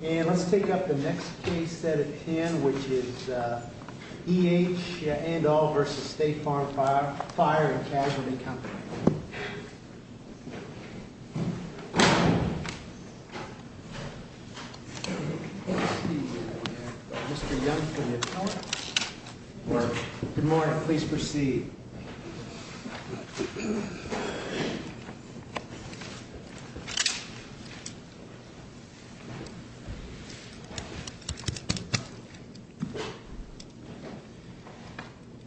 And let's take up the next case at hand, which is E.H. Andahl v. State Farm Fire & Casualty Co. Good morning. Please proceed.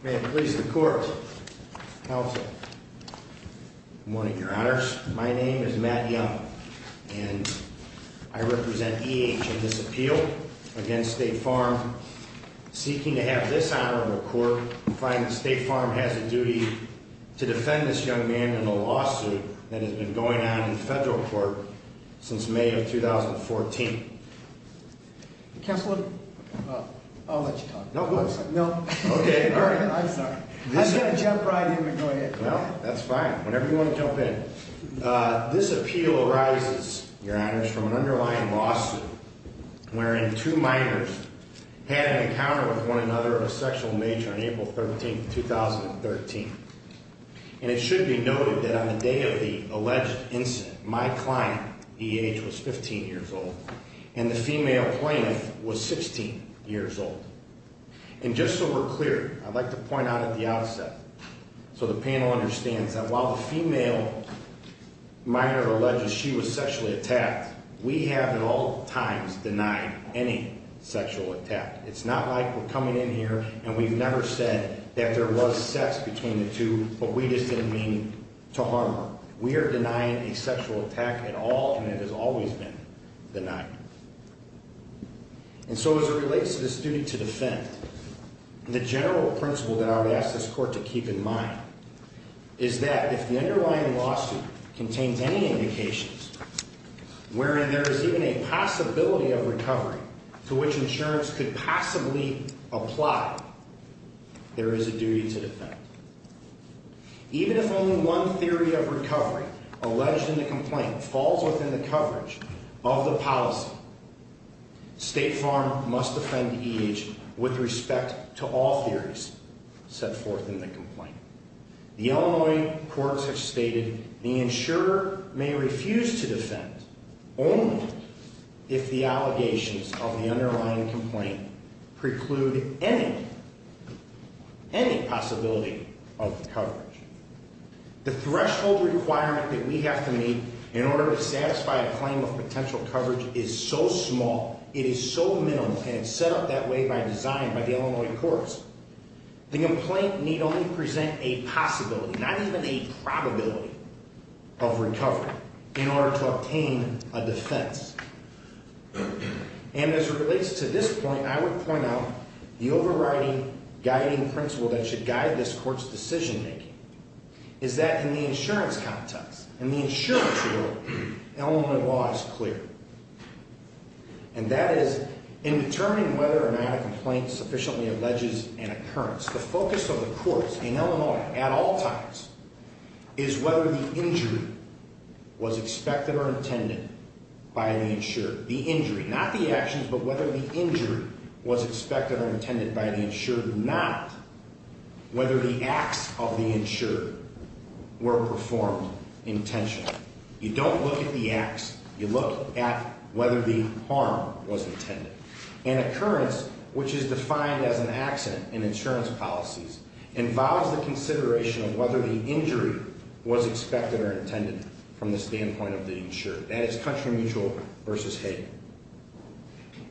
May it please the Court, counsel. Good morning, Your Honors. My name is Matt Young, and I represent E.H. in this appeal against State Farm. Seeking to have this honor of a court, I find that State Farm has a duty to defend this young man in a lawsuit that has been going on in federal court since May of 2014. Counselor, I'll let you talk. No, please. No. Okay, all right. I'm sorry. I'm going to jump right in, but go ahead. Well, that's fine. Whenever you want to jump in. This appeal arises, Your Honors, from an underlying lawsuit wherein two minors had an encounter with one another of a sexual nature on April 13, 2013. And it should be noted that on the day of the alleged incident, my client, E.H., was 15 years old, and the female plaintiff was 16 years old. And just so we're clear, I'd like to point out at the outset so the panel understands that while the female minor alleges she was sexually attacked, we have at all times denied any sexual attack. It's not like we're coming in here and we've never said that there was sex between the two, but we just didn't mean to harm her. We are denying a sexual attack at all, and it has always been denied. And so as it relates to this duty to defend, the general principle that I would ask this Court to keep in mind is that if the underlying lawsuit contains any indications wherein there is even a possibility of recovery to which insurance could possibly apply, there is a duty to defend. State Farm must defend E.H. with respect to all theories set forth in the complaint. The Illinois courts have stated the insurer may refuse to defend only if the allegations of the underlying complaint preclude any possibility of coverage. The threshold requirement that we have to meet in order to satisfy a claim of potential coverage is so small, it is so minimal, and it's set up that way by design by the Illinois courts. The complaint need only present a possibility, not even a probability, of recovery in order to obtain a defense. And as it relates to this point, I would point out the overriding guiding principle that should guide this Court's decision-making is that in the insurance context, in the insurance world, Illinois law is clear. And that is, in determining whether or not a complaint sufficiently alleges an occurrence, the focus of the courts in Illinois at all times is whether the injury was expected or intended by the insurer. The injury, not the actions, but whether the injury was expected or intended by the insurer, not whether the acts of the insurer were performed intentionally. You don't look at the acts, you look at whether the harm was intended. An occurrence, which is defined as an accident in insurance policies, involves the consideration of whether the injury was expected or intended from the standpoint of the insurer. That is country mutual versus hate.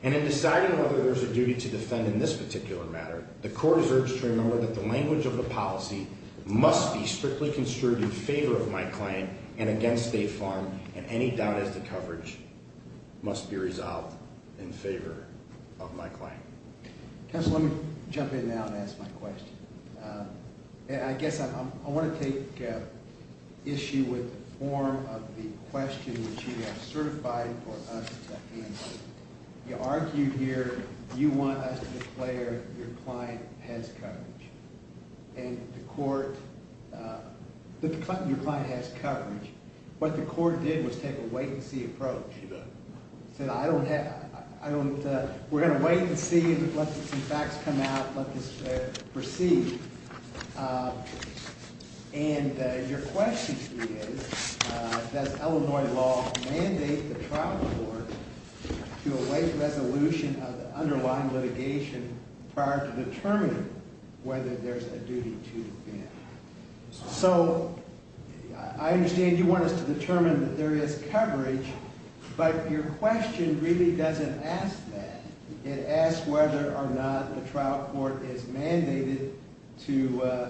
And in deciding whether there's a duty to defend in this particular matter, the Court is urged to remember that the language of the policy must be strictly construed in favor of my claim and against State Farm, and any doubt as to coverage must be resolved in favor of my claim. Counsel, let me jump in now and ask my question. I guess I want to take issue with the form of the question which you have certified for us to answer. You argued here, you want us to declare your client has coverage. And the Court, your client has coverage. What the Court did was take a wait and see approach. We're going to wait and see and let some facts come out, let this proceed. And your question to me is, does Illinois law mandate the trial court to await resolution of the underlying litigation prior to determining whether there's a duty to defend? So I understand you want us to determine that there is coverage, but your question really doesn't ask that. It asks whether or not the trial court is mandated to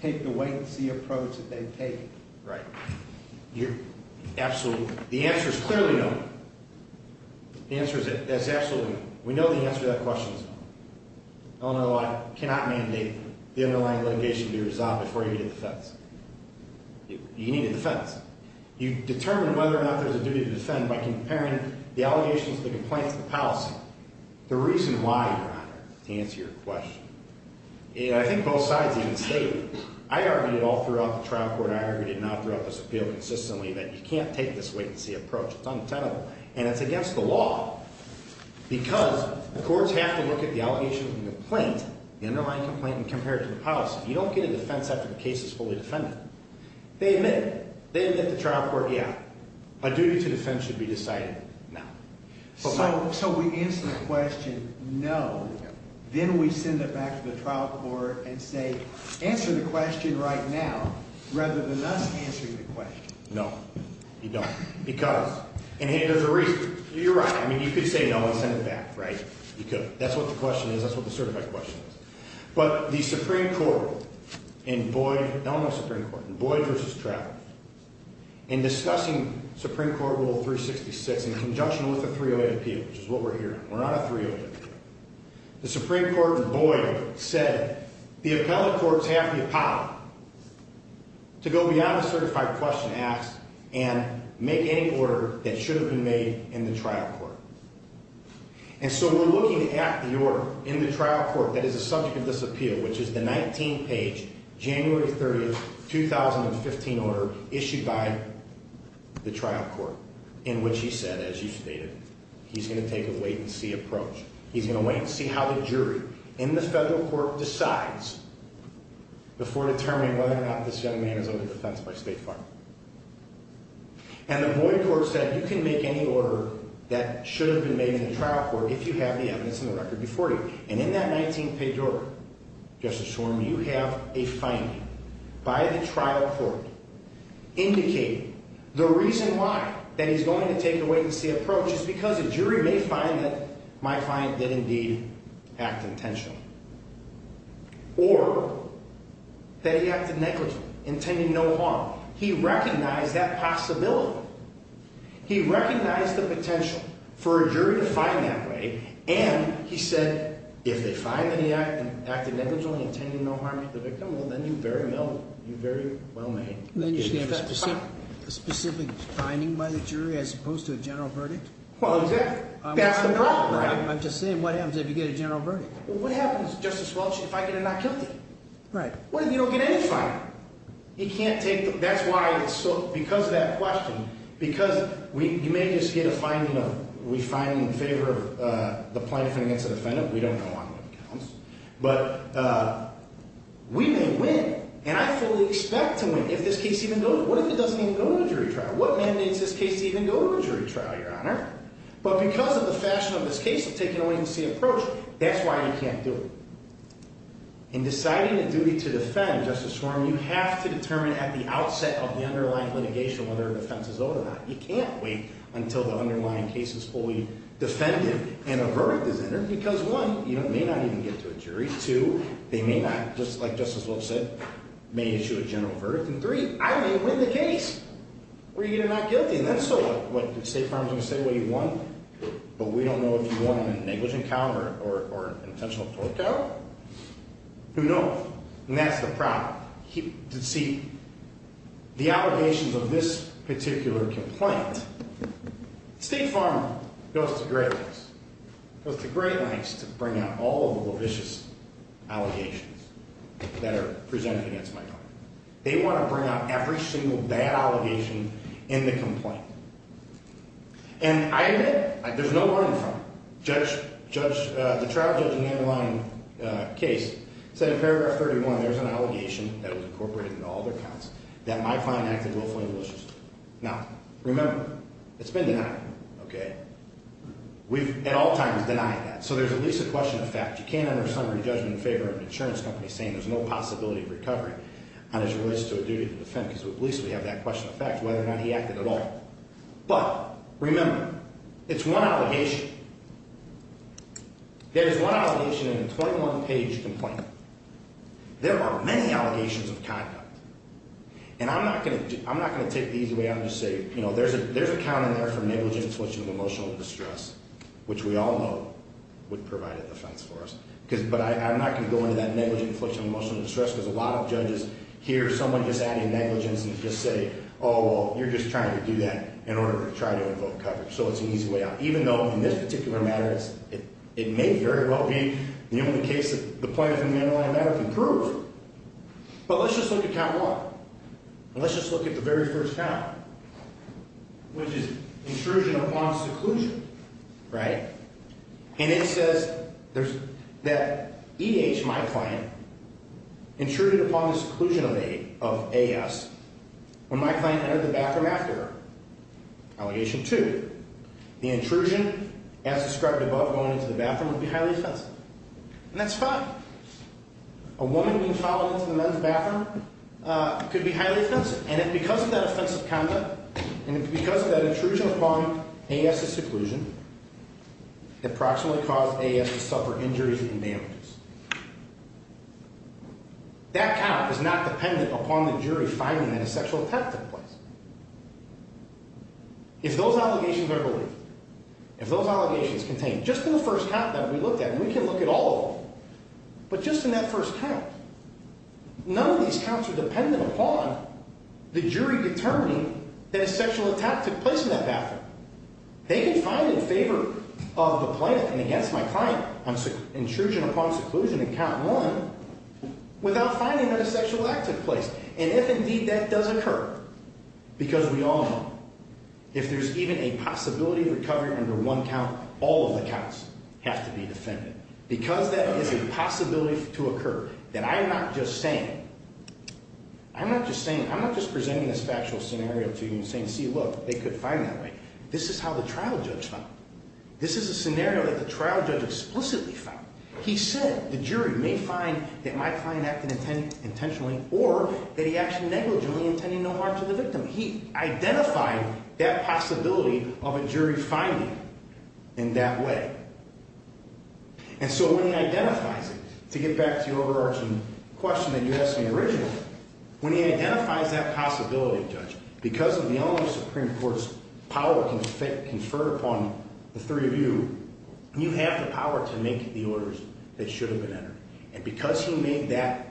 take the wait and see approach that they've taken. Right. Absolutely. The answer is clearly no. The answer is absolutely no. We know the answer to that question is no. Illinois law cannot mandate the underlying litigation to be resolved before you need a defense. You need a defense. You determine whether or not there's a duty to defend by comparing the allegations of the complaint to the policy. The reason why, Your Honor, to answer your question, I think both sides even stated, I argued it all throughout the trial court. I argued it now throughout this appeal consistently that you can't take this wait and see approach. It's untenable. And it's against the law because the courts have to look at the allegations of the complaint, the underlying complaint, and compare it to the policy. You don't get a defense after the case is fully defended. They admit it. They admit to the trial court, yeah, a duty to defend should be decided now. So we answer the question no, then we send it back to the trial court and say, answer the question right now rather than us answering the question. No, you don't. Because? And here's the reason. You're right. I mean, you could say no and send it back, right? You could. That's what the question is. That's what the certified question is. But the Supreme Court in Boyd, Illinois Supreme Court, in Boyd v. Travis, in discussing Supreme Court Rule 366 in conjunction with the 308 appeal, which is what we're hearing. We're on a 308 appeal. The Supreme Court in Boyd said the appellate courts have the power to go beyond the certified question asked and make any order that should have been made in the trial court. And so we're looking at the order in the trial court that is the subject of this appeal, which is the 19-page January 30, 2015 order issued by the trial court in which he said, as you stated, he's going to take a wait-and-see approach. He's going to wait and see how the jury in the federal court decides before determining whether or not this young man is under defense by state fire. And the Boyd court said you can make any order that should have been made in the trial court if you have the evidence in the record before you. And in that 19-page order, Justice Horne, you have a finding by the trial court indicating the reason why that he's going to take a wait-and-see approach is because a jury may find that my client did indeed act intentionally or that he acted negligently, intending no harm. He recognized that possibility. He recognized the potential for a jury to find that way. And he said, if they find that he acted negligently, intending no harm to the victim, well, then you're very well made. Then you're going to have a specific finding by the jury as opposed to a general verdict? Well, exactly. That's the problem. I'm just saying, what happens if you get a general verdict? Well, what happens, Justice Welch, if I get a not guilty? Right. What if you don't get any finding? That's why it's so, because of that question, because you may just get a finding of we find in favor of the plaintiff against the defendant. We don't know on what counts. But we may win. And I fully expect to win if this case even goes. What if it doesn't even go to a jury trial? What mandates this case to even go to a jury trial, Your Honor? But because of the fashion of this case of taking a wait-and-see approach, that's why you can't do it. In deciding a duty to defend, Justice Schwarm, you have to determine at the outset of the underlying litigation whether a defense is owed or not. You can't wait until the underlying case is fully defended and a verdict is entered because, one, you may not even get to a jury. Two, they may not, just like Justice Welch said, may issue a general verdict. And, three, I may win the case. We're going to get a not guilty. And that's still what the State Farm is going to say what you won. But we don't know if you won in a negligent count or intentional forked out. Who knows? And that's the problem. See, the allegations of this particular complaint, State Farm goes to great lengths, goes to great lengths to bring out all of the vicious allegations that are presented against my client. They want to bring out every single bad allegation in the complaint. And I admit, there's no running from it. The trial judge in the underlying case said in paragraph 31 there's an allegation that was incorporated into all of their counts that my client acted willfully and maliciously. Now, remember, it's been denied. Okay? We've at all times denied that. So there's at least a question of fact. You can't enter a summary judgment in favor of an insurance company saying there's no possibility of recovery on his rights to a duty to defend because at least we have that question of fact, whether or not he acted at all. But remember, it's one allegation. There's one allegation in a 21-page complaint. There are many allegations of conduct. And I'm not going to take these away. I'm just going to say, you know, there's a count in there for negligent infliction of emotional distress, which we all know would provide a defense for us. But I'm not going to go into that negligent infliction of emotional distress because a lot of judges hear someone just adding negligence and just say, oh, well, you're just trying to do that in order to try to invoke coverage. So it's an easy way out. Even though in this particular matter it may very well be the only case that the plaintiff in the underlying matter can prove. But let's just look at count one. And let's just look at the very first count, which is intrusion upon seclusion. Right? And it says that E.H., my client, intruded upon the seclusion of A.S. when my client entered the bathroom after her. Allegation two, the intrusion as described above going into the bathroom would be highly offensive. And that's fine. A woman being followed into the men's bathroom could be highly offensive. And because of that offensive conduct and because of that intrusion upon A.S.'s seclusion, it approximately caused A.S. to suffer injuries and damages. That count is not dependent upon the jury finding that a sexual attack took place. If those allegations are believed, if those allegations contain just in the first count that we looked at, and we can look at all of them, but just in that first count, none of these counts are dependent upon the jury determining that a sexual attack took place in that bathroom. They can find in favor of the plaintiff and against my client on intrusion upon seclusion in count one without finding that a sexual act took place. And if indeed that does occur, because we all know, if there's even a possibility of recovery under one count, all of the counts have to be defended. Because that is a possibility to occur. And I'm not just saying it. I'm not just saying it. I'm not just presenting this factual scenario to you and saying, see, look, they could find that way. This is how the trial judge found it. This is a scenario that the trial judge explicitly found. He said the jury may find that my client acted intentionally or that he actually negligently intended no harm to the victim. He identified that possibility of a jury finding in that way. And so when he identifies it, to get back to your overarching question that you asked me originally, when he identifies that possibility, Judge, because of the only Supreme Court's power conferred upon the three of you, you have the power to make the orders that should have been entered. And because he made that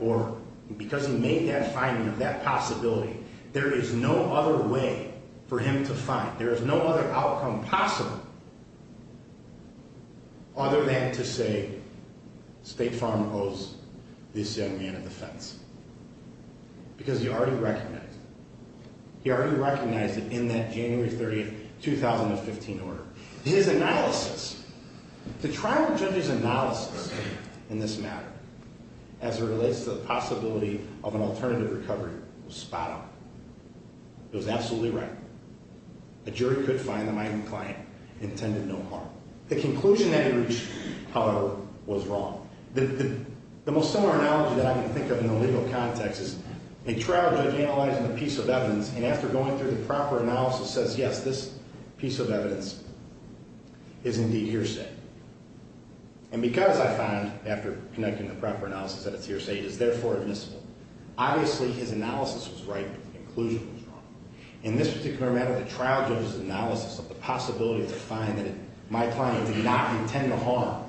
finding of that possibility, there is no other way for him to find. There is no other outcome possible other than to say State Farm owes this young man a defense. Because he already recognized it. He already recognized it in that January 30, 2015 order. His analysis, the trial judge's analysis in this matter as it relates to the possibility of an alternative recovery was spot on. It was absolutely right. A jury could find that my client intended no harm. The conclusion that he reached, however, was wrong. The most similar analogy that I can think of in the legal context is a trial judge analyzing a piece of evidence and after going through the proper analysis says, yes, this piece of evidence is indeed hearsay. And because I found after connecting the proper analysis that it's hearsay, it is therefore admissible. Obviously, his analysis was right, but the conclusion was wrong. In this particular matter, the trial judge's analysis of the possibility to find that my client did not intend to harm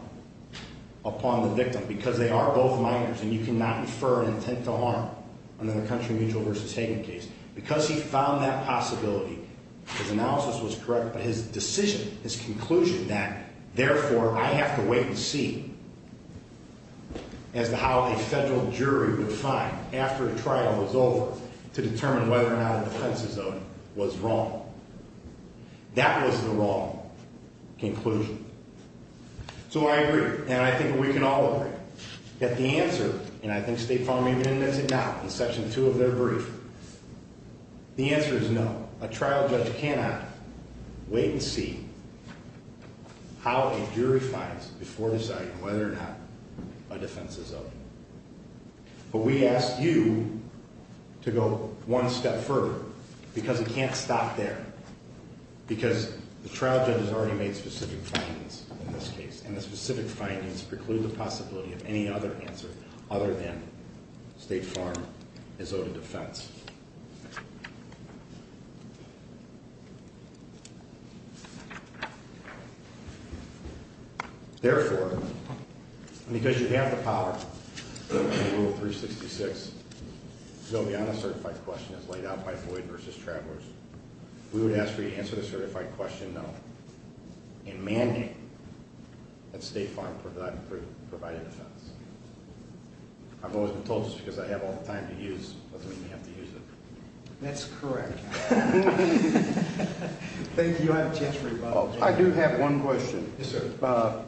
upon the victim because they are both minors and you cannot infer an intent to harm under the country mutual versus Hagan case. Because he found that possibility, his analysis was correct, but his decision, his conclusion that therefore I have to wait and see as to how a federal jury would find after a trial was over to determine whether or not a defense is owed was wrong. That was the wrong conclusion. So I agree, and I think we can all agree that the answer, and I think State Farm even admits it now in Section 2 of their brief, the answer is no. A trial judge cannot wait and see how a jury finds before deciding whether or not a defense is owed. But we ask you to go one step further because it can't stop there. Because the trial judge has already made specific findings in this case, and the specific findings preclude the possibility of any other answer other than State Farm is owed a defense. Therefore, because you have the power in Rule 366 to go beyond a certified question as laid out by Floyd v. Travelers, we would ask for you to answer the certified question no and mandate that State Farm provide a defense. I've always been told just because I have all the time to use doesn't mean I have to use it. That's correct. Thank you. I have a chance for a follow-up. I do have one question. Yes, sir.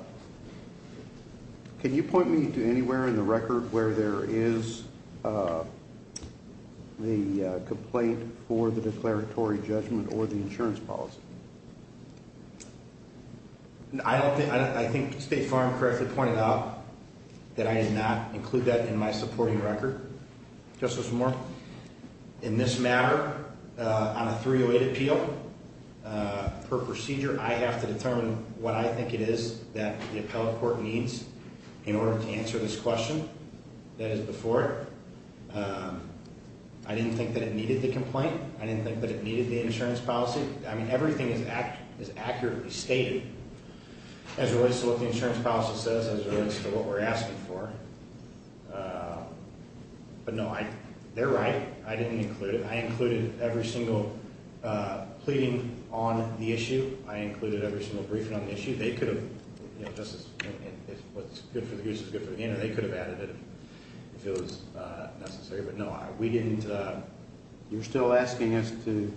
Can you point me to anywhere in the record where there is the complaint for the declaratory judgment or the insurance policy? I think State Farm correctly pointed out that I did not include that in my supporting record. Justice Moore, in this matter, on a 308 appeal, per procedure, I have to determine what I think it is that the appellate court needs in order to answer this question that is before it. I didn't think that it needed the complaint. I didn't think that it needed the insurance policy. I mean, everything is accurately stated as it relates to what the insurance policy says, as it relates to what we're asking for. But, no, they're right. I didn't include it. I included every single pleading on the issue. I included every single briefing on the issue. They could have, you know, just as what's good for the goose is good for the game, or they could have added it if it was necessary. But, no, we didn't. You're still asking us to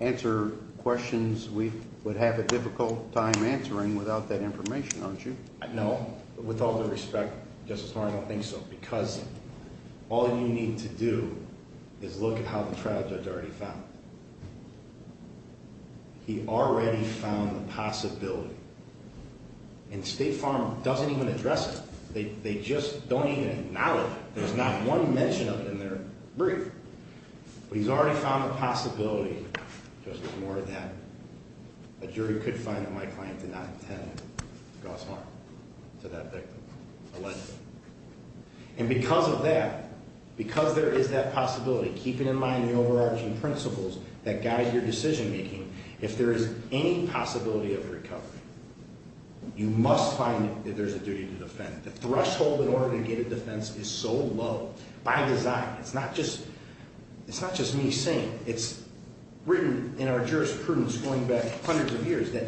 answer questions we would have a difficult time answering without that information, aren't you? No. With all due respect, Justice Moore, I don't think so, because all you need to do is look at how the trial judge already found it. He already found the possibility. And State Farm doesn't even address it. They just don't even acknowledge it. There's not one mention of it in their brief. But he's already found the possibility, Justice Moore, that a jury could find that my client did not intend to cause harm to that victim, allegedly. And because of that, because there is that possibility, keeping in mind the overarching principles that guide your decision-making, if there is any possibility of recovery, you must find that there's a duty to defend. The threshold in order to get a defense is so low, by design. It's not just me saying it. It's written in our jurisprudence going back hundreds of years that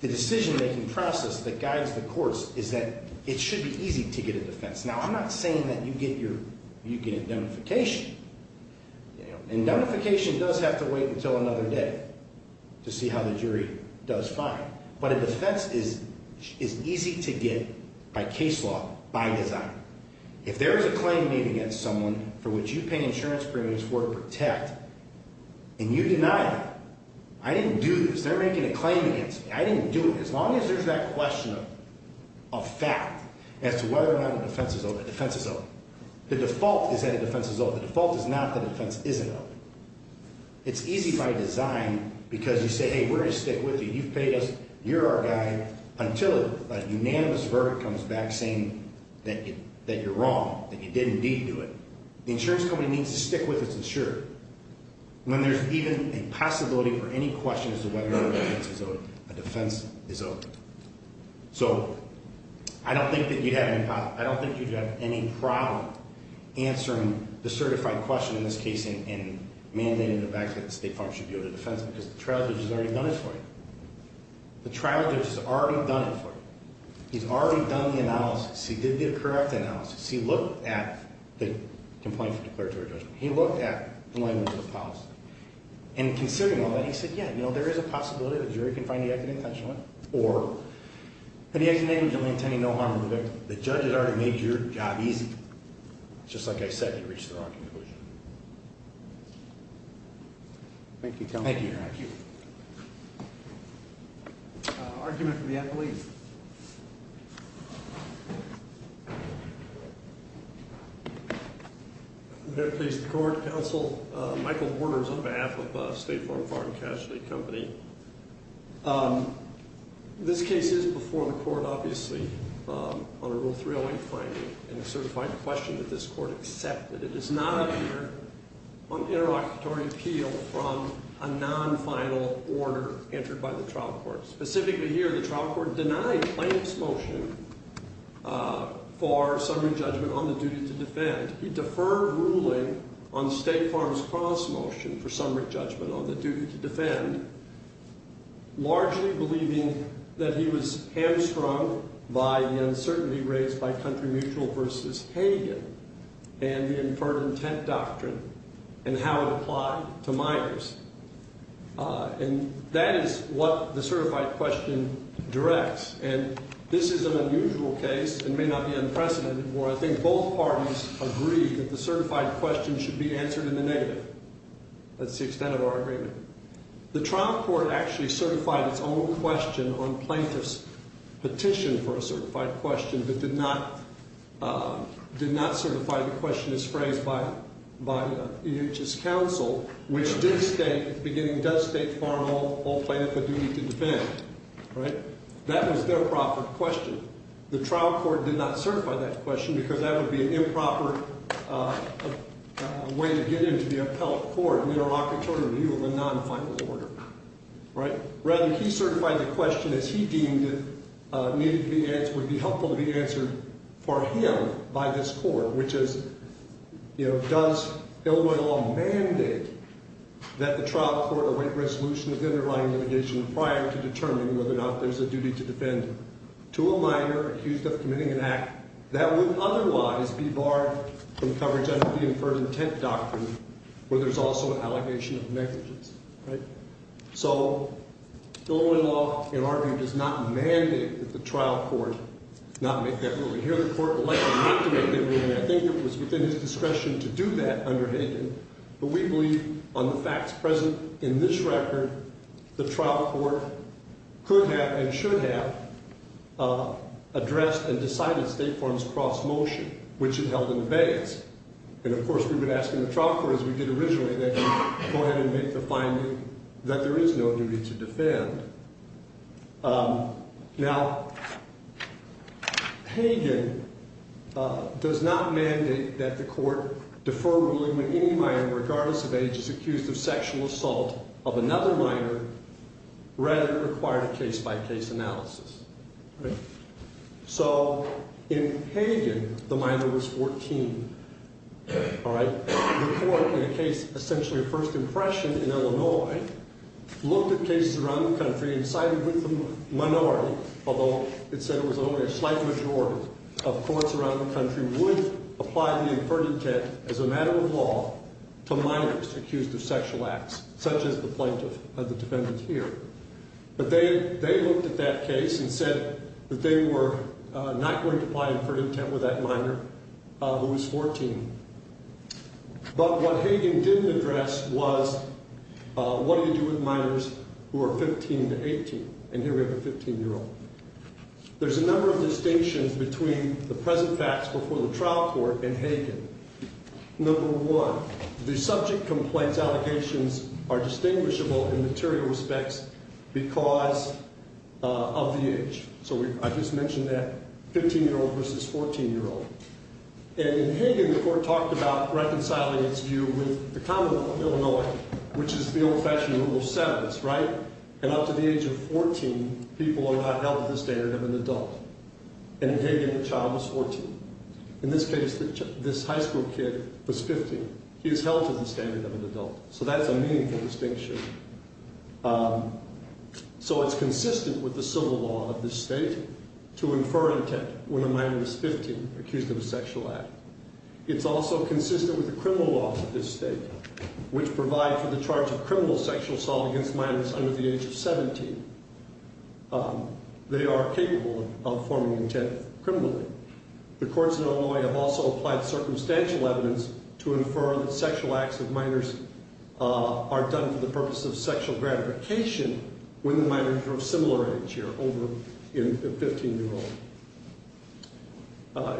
the decision-making process that guides the courts is that it should be easy to get a defense. Now, I'm not saying that you get indemnification. And indemnification does have to wait until another day to see how the jury does find it. But a defense is easy to get by case law, by design. If there is a claim made against someone for which you pay insurance premiums for to protect and you deny that, I didn't do this. They're making a claim against me. I didn't do it. As long as there's that question of fact as to whether or not a defense is open, a defense is open. The default is that a defense is open. The default is not that a defense isn't open. It's easy by design because you say, hey, we're going to stick with you. You've paid us. You're our guy, until a unanimous verdict comes back saying that you're wrong, that you did indeed do it. The insurance company needs to stick with its insurer. When there's even a possibility for any question as to whether or not a defense is open, a defense is open. So, I don't think that you'd have any problem answering the certified question in this case and mandating the fact that the State Farm should be able to defense because the trial judge has already done it for you. The trial judge has already done it for you. He's already done the analysis. He did the correct analysis. He looked at the complaint for declaratory judgment. He looked at the language of the policy. And considering all that, he said, yeah, there is a possibility that the jury can find the act of intentional or the action may be only intending no harm to the victim. The judge has already made your job easy. Just like I said, you reached the wrong conclusion. Thank you, counsel. Thank you. Argument from the athlete. Very pleased to court. Counsel Michael Borders on behalf of State Farm Farm Casualty Company. This case is before the court, obviously, on a Rule 308 finding and a certified question that this court accepted. It does not appear on interlocutory appeal from a non-final order entered by the trial court. Specifically here, the trial court denied Plaintiff's motion for summary judgment on the duty to defend. He deferred ruling on State Farm's cross motion for summary judgment on the duty to defend, largely believing that he was hamstrung by the uncertainty raised by Country Mutual v. Hagen and the inferred intent doctrine and how it applied to Myers. And that is what the certified question directs. And this is an unusual case and may not be unprecedented where I think both parties agree that the certified question should be answered in the negative. That's the extent of our agreement. The trial court actually certified its own question on Plaintiff's petition for a certified question, but did not certify the question as phrased by EH's counsel, which did state, beginning, does State Farm hold Plaintiff a duty to defend? That was their proper question. The trial court did not certify that question because that would be an improper way to get into the appellate court, an interlocutory review of a non-final order. Rather, he certified the question as he deemed would be helpful to be answered for him by this court, which is, you know, does Illinois law mandate that the trial court await resolution of the underlying litigation prior to determining whether or not there's a duty to defend to a minor accused of committing an act that would otherwise be barred from coverage under the inferred intent doctrine where there's also an allegation of negligence. So Illinois law, in our view, does not mandate that the trial court not make that ruling. Here the court elected not to make that ruling. I think it was within his discretion to do that under Hayden, but we believe on the facts present in this record, the trial court could have and should have addressed and decided State Farm's cross-motion, which it held in abeyance. And, of course, we've been asking the trial court, as we did originally, to go ahead and make the finding that there is no duty to defend. Now, Hayden does not mandate that the court defer ruling when any minor, regardless of age, is accused of sexual assault of another minor. Rather, it required a case-by-case analysis. So in Hayden, the minor was 14. The court, in a case essentially of first impression in Illinois, looked at cases around the country and decided with the minority, although it said it was only a slight majority of courts around the country, would apply the inferred intent as a matter of law to minors accused of sexual acts, such as the plaintiff, the defendant here. But they looked at that case and said that they were not going to apply inferred intent with that minor who was 14. But what Hayden didn't address was what do you do with minors who are 15 to 18. And here we have a 15-year-old. There's a number of distinctions between the present facts before the trial court and Hayden. Number one, the subject complaints allegations are distinguishable in material respects because of the age. So I just mentioned that 15-year-old versus 14-year-old. And in Hayden, the court talked about reconciling its view with the common law of Illinois, which is the old-fashioned rule of sevens, right? And up to the age of 14, people are not held to the standard of an adult. And in Hayden, the child was 14. In this case, this high school kid was 15. He was held to the standard of an adult. So that's a meaningful distinction. So it's consistent with the civil law of this state to infer intent when a minor is 15, accused of a sexual act. It's also consistent with the criminal law of this state, which provides for the charge of criminal sexual assault against minors under the age of 17. They are capable of forming intent criminally. The courts in Illinois have also applied circumstantial evidence to infer that sexual acts of minors are done for the purpose of sexual gratification when the minor is of similar age here, over 15-year-old.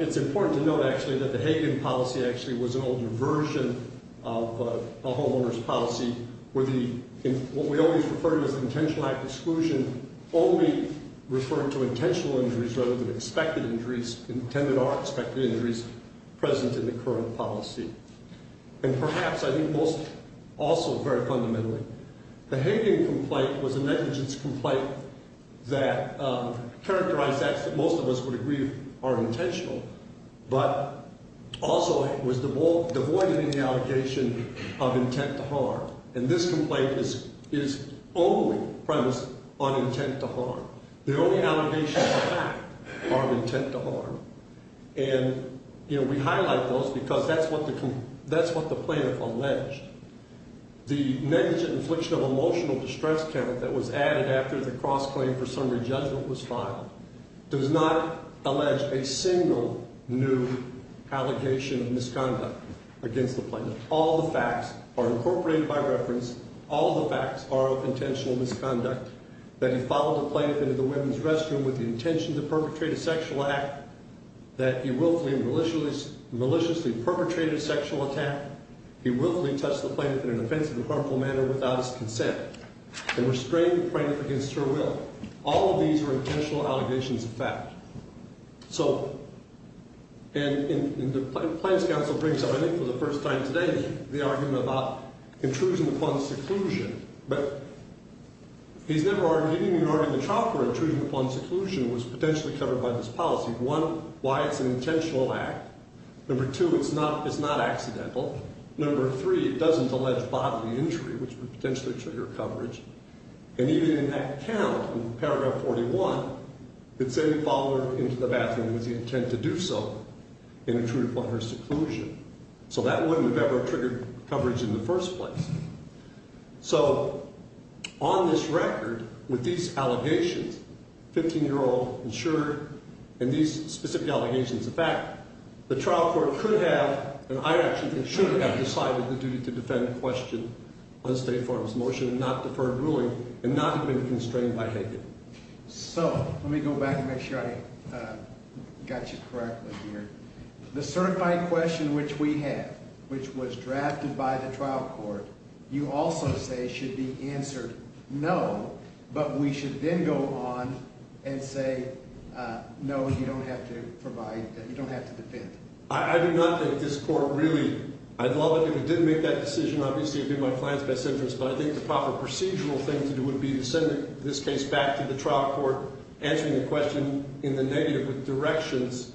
It's important to note, actually, that the Hayden policy actually was an older version of a homeowner's policy, where what we always referred to as an intentional act of exclusion only referred to intentional injuries rather than expected injuries, intended or expected injuries, present in the current policy. And perhaps, I think, also very fundamentally, the Hayden complaint was a negligence complaint that characterized acts that most of us would agree are intentional, but also was devoid of any allegation of intent to harm. And this complaint is only premised on intent to harm. The only allegations of fact are of intent to harm. And, you know, we highlight those because that's what the plaintiff alleged. The negligent infliction of emotional distress count that was added after the cross-claim for summary judgment was filed does not allege a single new allegation of misconduct against the plaintiff. All the facts are incorporated by reference. All the facts are of intentional misconduct, that he followed the plaintiff into the women's restroom with the intention to perpetrate a sexual act, that he willfully and maliciously perpetrated a sexual attack, he willfully touched the plaintiff in an offensive and harmful manner without his consent, and restrained the plaintiff against her will. All of these are intentional allegations of fact. So, and the Plaintiff's Counsel brings up, I think, for the first time today, the argument about intrusion upon seclusion. But he's never argued, he didn't even argue the trial for intrusion upon seclusion was potentially covered by this policy. One, why it's an intentional act. Number two, it's not accidental. Number three, it doesn't allege bodily injury, which would potentially trigger coverage. And even in that count, in paragraph 41, it said he followed her into the bathroom with the intent to do so and intruded upon her seclusion. So that wouldn't have ever triggered coverage in the first place. So, on this record, with these allegations, 15-year-old insured, and these specific allegations of fact, the trial court could have, and I actually think should have, decided the duty to defend question on State Farm's motion and not deferred ruling and not have been constrained by Hagan. So, let me go back and make sure I got you correctly here. The certified question which we have, which was drafted by the trial court, you also say should be answered no, but we should then go on and say no, you don't have to provide, you don't have to defend. I do not think this court really, I'd love it if it did make that decision, obviously it would be in my client's best interest, but I think the proper procedural thing to do would be to send this case back to the trial court, answering the question in the negative with directions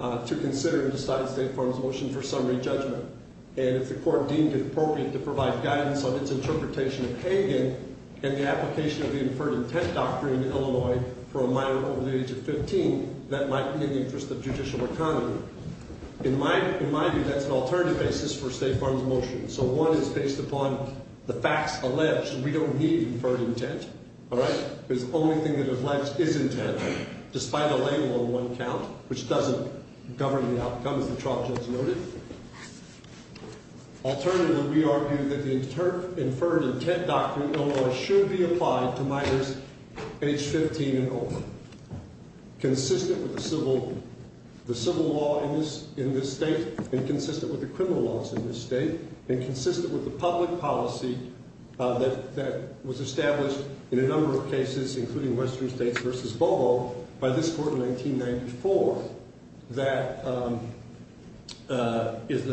to consider and decide State Farm's motion for summary judgment. And if the court deemed it appropriate to provide guidance on its interpretation of Hagan and the application of the Inferred Intent Doctrine in Illinois for a minor over the age of 15, that might be in the interest of judicial economy. In my view, that's an alternative basis for State Farm's motion. So one is based upon the facts alleged. We don't need Inferred Intent, all right? Because the only thing that is alleged is intent, despite a label on one count, which doesn't govern the outcome as the trial judge noted. Alternatively, we argue that the Inferred Intent Doctrine in Illinois should be applied to minors age 15 and over, consistent with the civil law in this state and consistent with the criminal laws in this state and consistent with the public policy that was established in a number of cases, including Western States v. Bobo, by this court in 1994. That is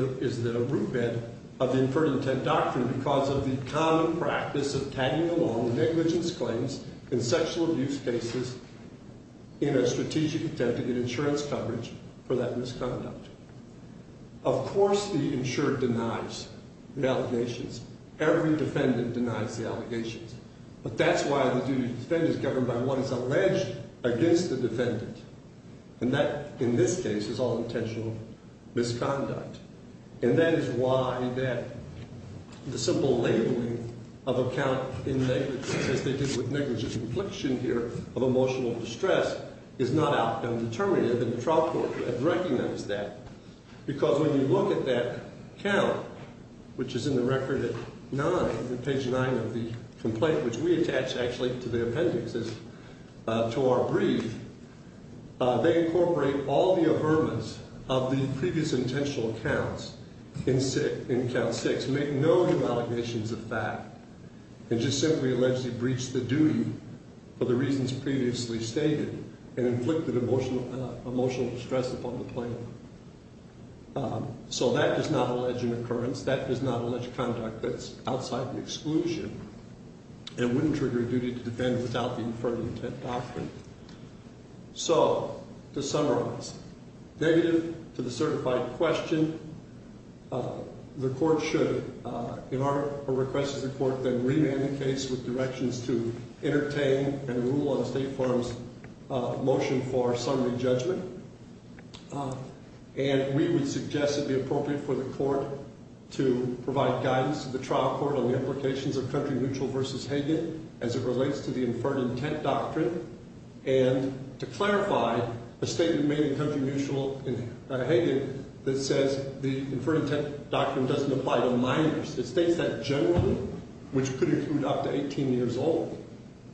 the root bed of the Inferred Intent Doctrine because of the common practice of tagging along negligence claims in sexual abuse cases in a strategic attempt to get insurance coverage for that misconduct. Of course, the insurer denies the allegations. Every defendant denies the allegations. But that's why the duty to defend is governed by what is alleged against the defendant. And that, in this case, is all intentional misconduct. And that is why the simple labeling of a count in negligence, as they did with negligence in affliction here of emotional distress, is not outcome determinative, and the trial court has recognized that. Because when you look at that count, which is in the record at page 9 of the complaint, which we attach actually to the appendix, to our brief, they incorporate all the averments of the previous intentional counts in count 6, make no new allegations of fact, and just simply allegedly breach the duty for the reasons previously stated and inflicted emotional distress upon the plaintiff. So that does not allege an occurrence. That does not allege conduct that's outside the exclusion and wouldn't trigger a duty to defend without the Inferred Intent Doctrine. So to summarize, negative to the certified question. The court should, in our request to the court, then remand the case with directions to entertain and rule on State Farm's motion for summary judgment. And we would suggest it be appropriate for the court to provide guidance to the trial court on the implications of country mutual versus Hagan as it relates to the Inferred Intent Doctrine and to clarify a statement made in country mutual in Hagan that says the Inferred Intent Doctrine doesn't apply to minors. It states that generally, which could include up to 18 years old,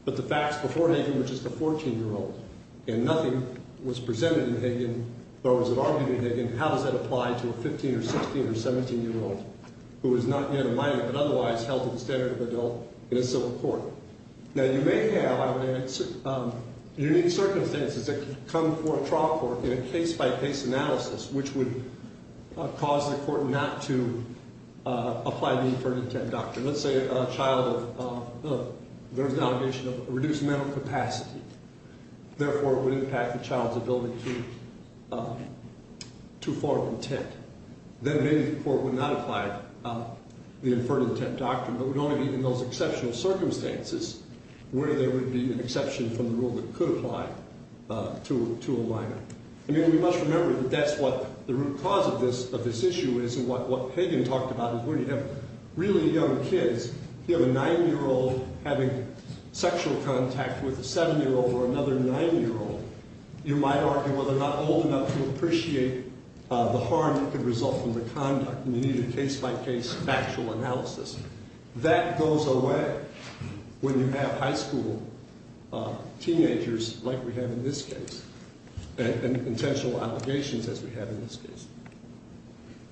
but the facts before Hagan were just a 14-year-old, and nothing was presented in Hagan or was argued in Hagan. How does that apply to a 15- or 16- or 17-year-old who is not yet a minor but otherwise held to the standard of adult in a civil court? Now, you may have unique circumstances that come before a trial court in a case-by-case analysis which would cause the court not to apply the Inferred Intent Doctrine. Let's say a child learns the allegation of reduced mental capacity. Therefore, it would impact the child's ability to form intent. Then maybe the court would not apply the Inferred Intent Doctrine, but would only be in those exceptional circumstances where there would be an exception from the rule that could apply to a minor. I mean, we must remember that that's what the root cause of this issue is and what Hagan talked about is when you have really young kids, you have a 9-year-old having sexual contact with a 7-year-old or another 9-year-old, you might argue, well, they're not old enough to appreciate the harm that could result from the conduct and you need a case-by-case factual analysis. That goes away when you have high school teenagers like we have in this case and intentional allegations as we have in this case.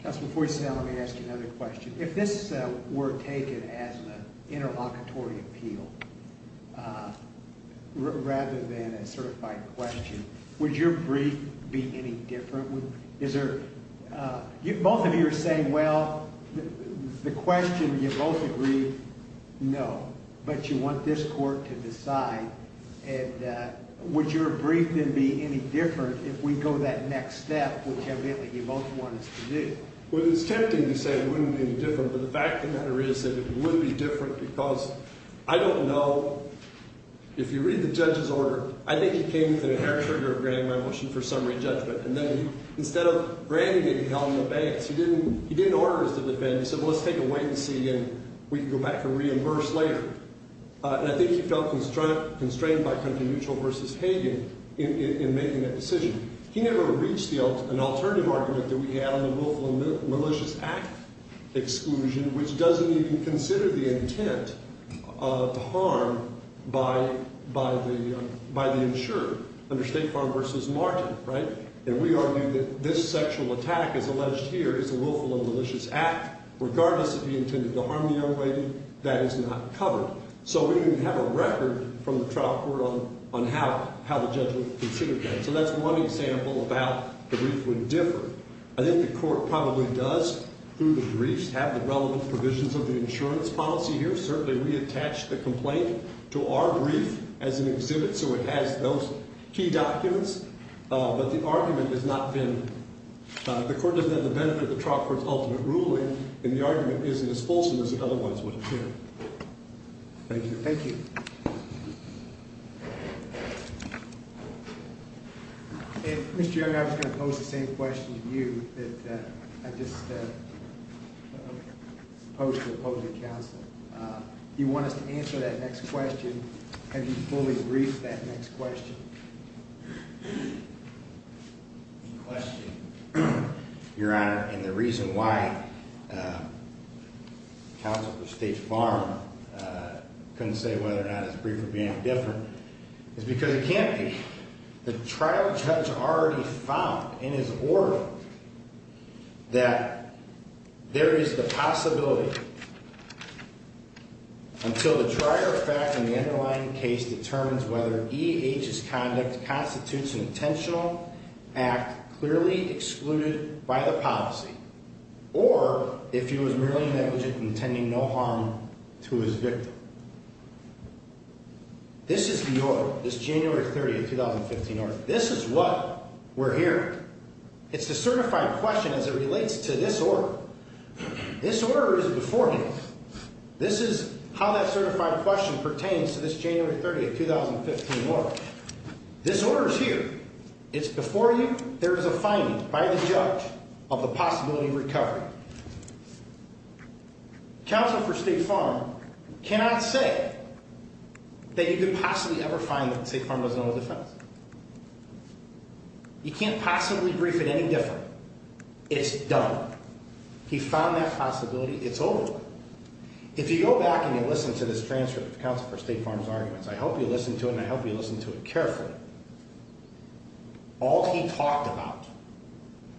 Counsel, before you say that, let me ask you another question. If this were taken as an interlocutory appeal rather than a certified question, would your brief be any different? Both of you are saying, well, the question you both agree, no, but you want this court to decide, and would your brief then be any different if we go that next step, which evidently you both want us to do? Well, it's tempting to say it wouldn't be any different, but the fact of the matter is that it would be different because I don't know. If you read the judge's order, I think he came with an air trigger of granting my motion for summary judgment and then instead of granting it, he held it in the banks. He didn't order us to defend. He said, well, let's take a wait and see and we can go back and reimburse later. And I think he felt constrained by country mutual versus Hagan in making that decision. He never reached an alternative argument that we had on the Willful and Malicious Act exclusion, which doesn't even consider the intent of the harm by the insurer under State Farm versus Martin. And we argue that this sexual attack, as alleged here, is a Willful and Malicious Act. Regardless of the intent to harm the young lady, that is not covered. So we didn't have a record from the trial court on how the judge would consider that. So that's one example about the brief would differ. I think the court probably does, through the briefs, have the relevant provisions of the insurance policy here, certainly reattach the complaint to our brief as an exhibit so it has those key documents. But the argument has not been. The court doesn't have the benefit of the trial court's ultimate ruling, and the argument isn't as fulsome as it otherwise would appear. Thank you. Thank you. Mr. Young, I was going to pose the same question to you that I just posed to the opposing counsel. Do you want us to answer that next question? Have you fully briefed that next question? The question, Your Honor, and the reason why counsel for State Farm couldn't say whether or not his brief would be any different is because it can't be. The trial judge already found in his order that there is the possibility, until the trial effect in the underlying case determines whether E.H.'s conduct constitutes an intentional act clearly excluded by the policy, or if he was merely negligent and intending no harm to his victim. This is the order, this January 30, 2015 order. This is what we're hearing. It's a certified question as it relates to this order. This order is before him. This is how that certified question pertains to this January 30, 2015 order. This order is here. It's before you. There is a finding by the judge of the possibility of recovery. Counsel for State Farm cannot say that you could possibly ever find that State Farm was on the defense. You can't possibly brief it any different. It's done. He found that possibility. It's over. If you go back and you listen to this transcript of counsel for State Farm's arguments, I hope you listen to it, and I hope you listen to it carefully. All he talked about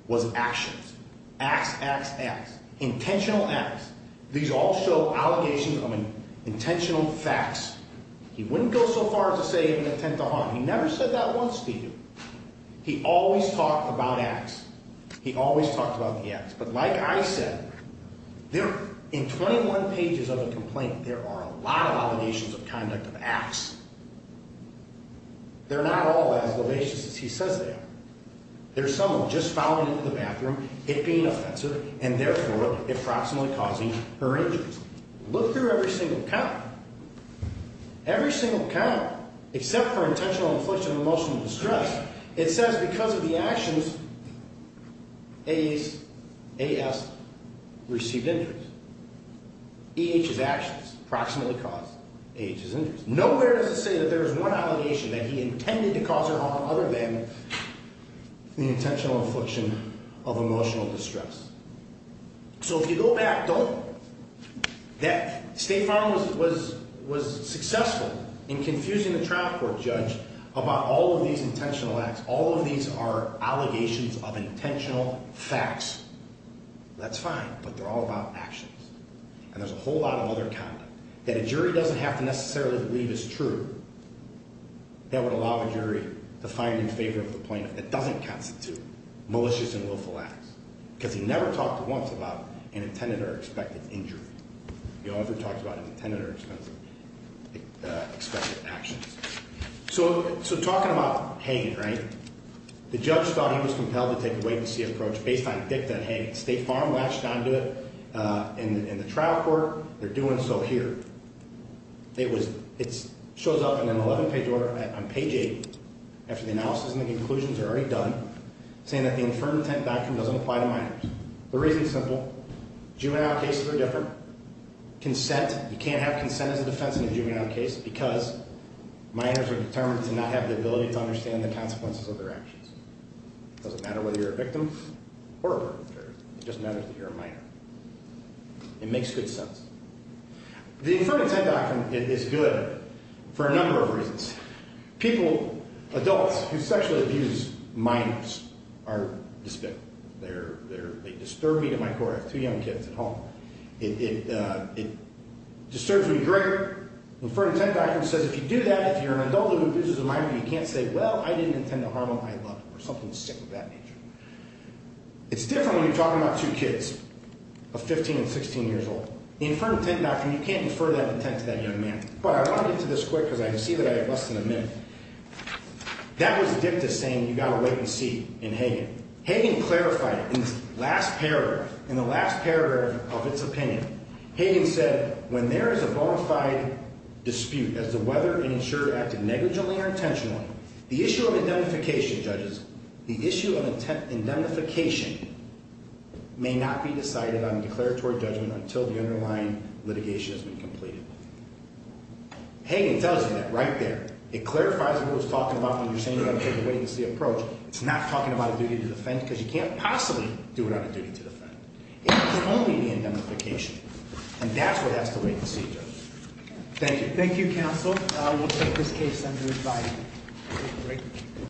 was actions. Acts, acts, acts. Intentional acts. These all show allegations of intentional facts. He wouldn't go so far as to say he had an intent to harm. He never said that once to you. He always talked about acts. He always talked about the acts. But like I said, in 21 pages of a complaint, there are a lot of allegations of conduct of acts. They're not all as lavish as he says they are. There's someone just fouling into the bathroom, it being offensive, and, therefore, approximately causing her injuries. Look through every single count. Every single count, except for intentional infliction of emotional distress, it says because of the actions, A.S. received injuries. E.H.'s actions approximately caused A.H.'s injuries. Nowhere does it say that there is one allegation that he intended to cause her harm other than the intentional infliction of emotional distress. So if you go back, State Farm was successful in confusing the trial court judge about all of these intentional acts. All of these are allegations of intentional facts. That's fine, but they're all about actions. And there's a whole lot of other conduct. That a jury doesn't have to necessarily believe is true. That would allow a jury to find in favor of the plaintiff that doesn't constitute malicious and willful acts. Because he never talked once about an intended or expected injury. He only ever talked about an intended or expected actions. So talking about hanging, right? The judge thought he was compelled to take a wait-and-see approach based on the fact that, hey, State Farm latched onto it in the trial court. They're doing so here. It shows up in an 11-page order on page 8, after the analysis and the conclusions are already done, saying that the infirm intent doctrine doesn't apply to minors. The reason is simple. Juvenile cases are different. Consent, you can't have consent as a defense in a juvenile case because minors are determined to not have the ability to understand the consequences of their actions. It doesn't matter whether you're a victim or a perpetrator. It just matters that you're a minor. It makes good sense. The infirm intent doctrine is good for a number of reasons. People, adults who sexually abuse minors are despicable. They disturb me to my core. I have two young kids at home. It disturbs me greater. The infirm intent doctrine says if you do that, if you're an adult who abuses a minor, you can't say, well, I didn't intend to harm them. I love them or something sick of that nature. It's different when you're talking about two kids of 15 and 16 years old. The infirm intent doctrine, you can't infer that intent to that young man. But I want to get to this quick because I see that I have less than a minute. That was dicta saying you got to wait and see in Hagan. Hagan clarified in this last paragraph, in the last paragraph of its opinion, Hagan said when there is a bona fide dispute as to whether an insurer acted negligently or intentionally, the issue of indemnification, judges, the issue of indemnification may not be decided on a declaratory judgment until the underlying litigation has been completed. Hagan tells you that right there. It clarifies what he was talking about when you're saying you got to take a wait and see approach. It's not talking about a duty to defend because you can't possibly do it on a duty to defend. It's only the indemnification, and that's what has to wait and see, judges. Thank you. Thank you, counsel. We'll take this case under advisory. Thank you.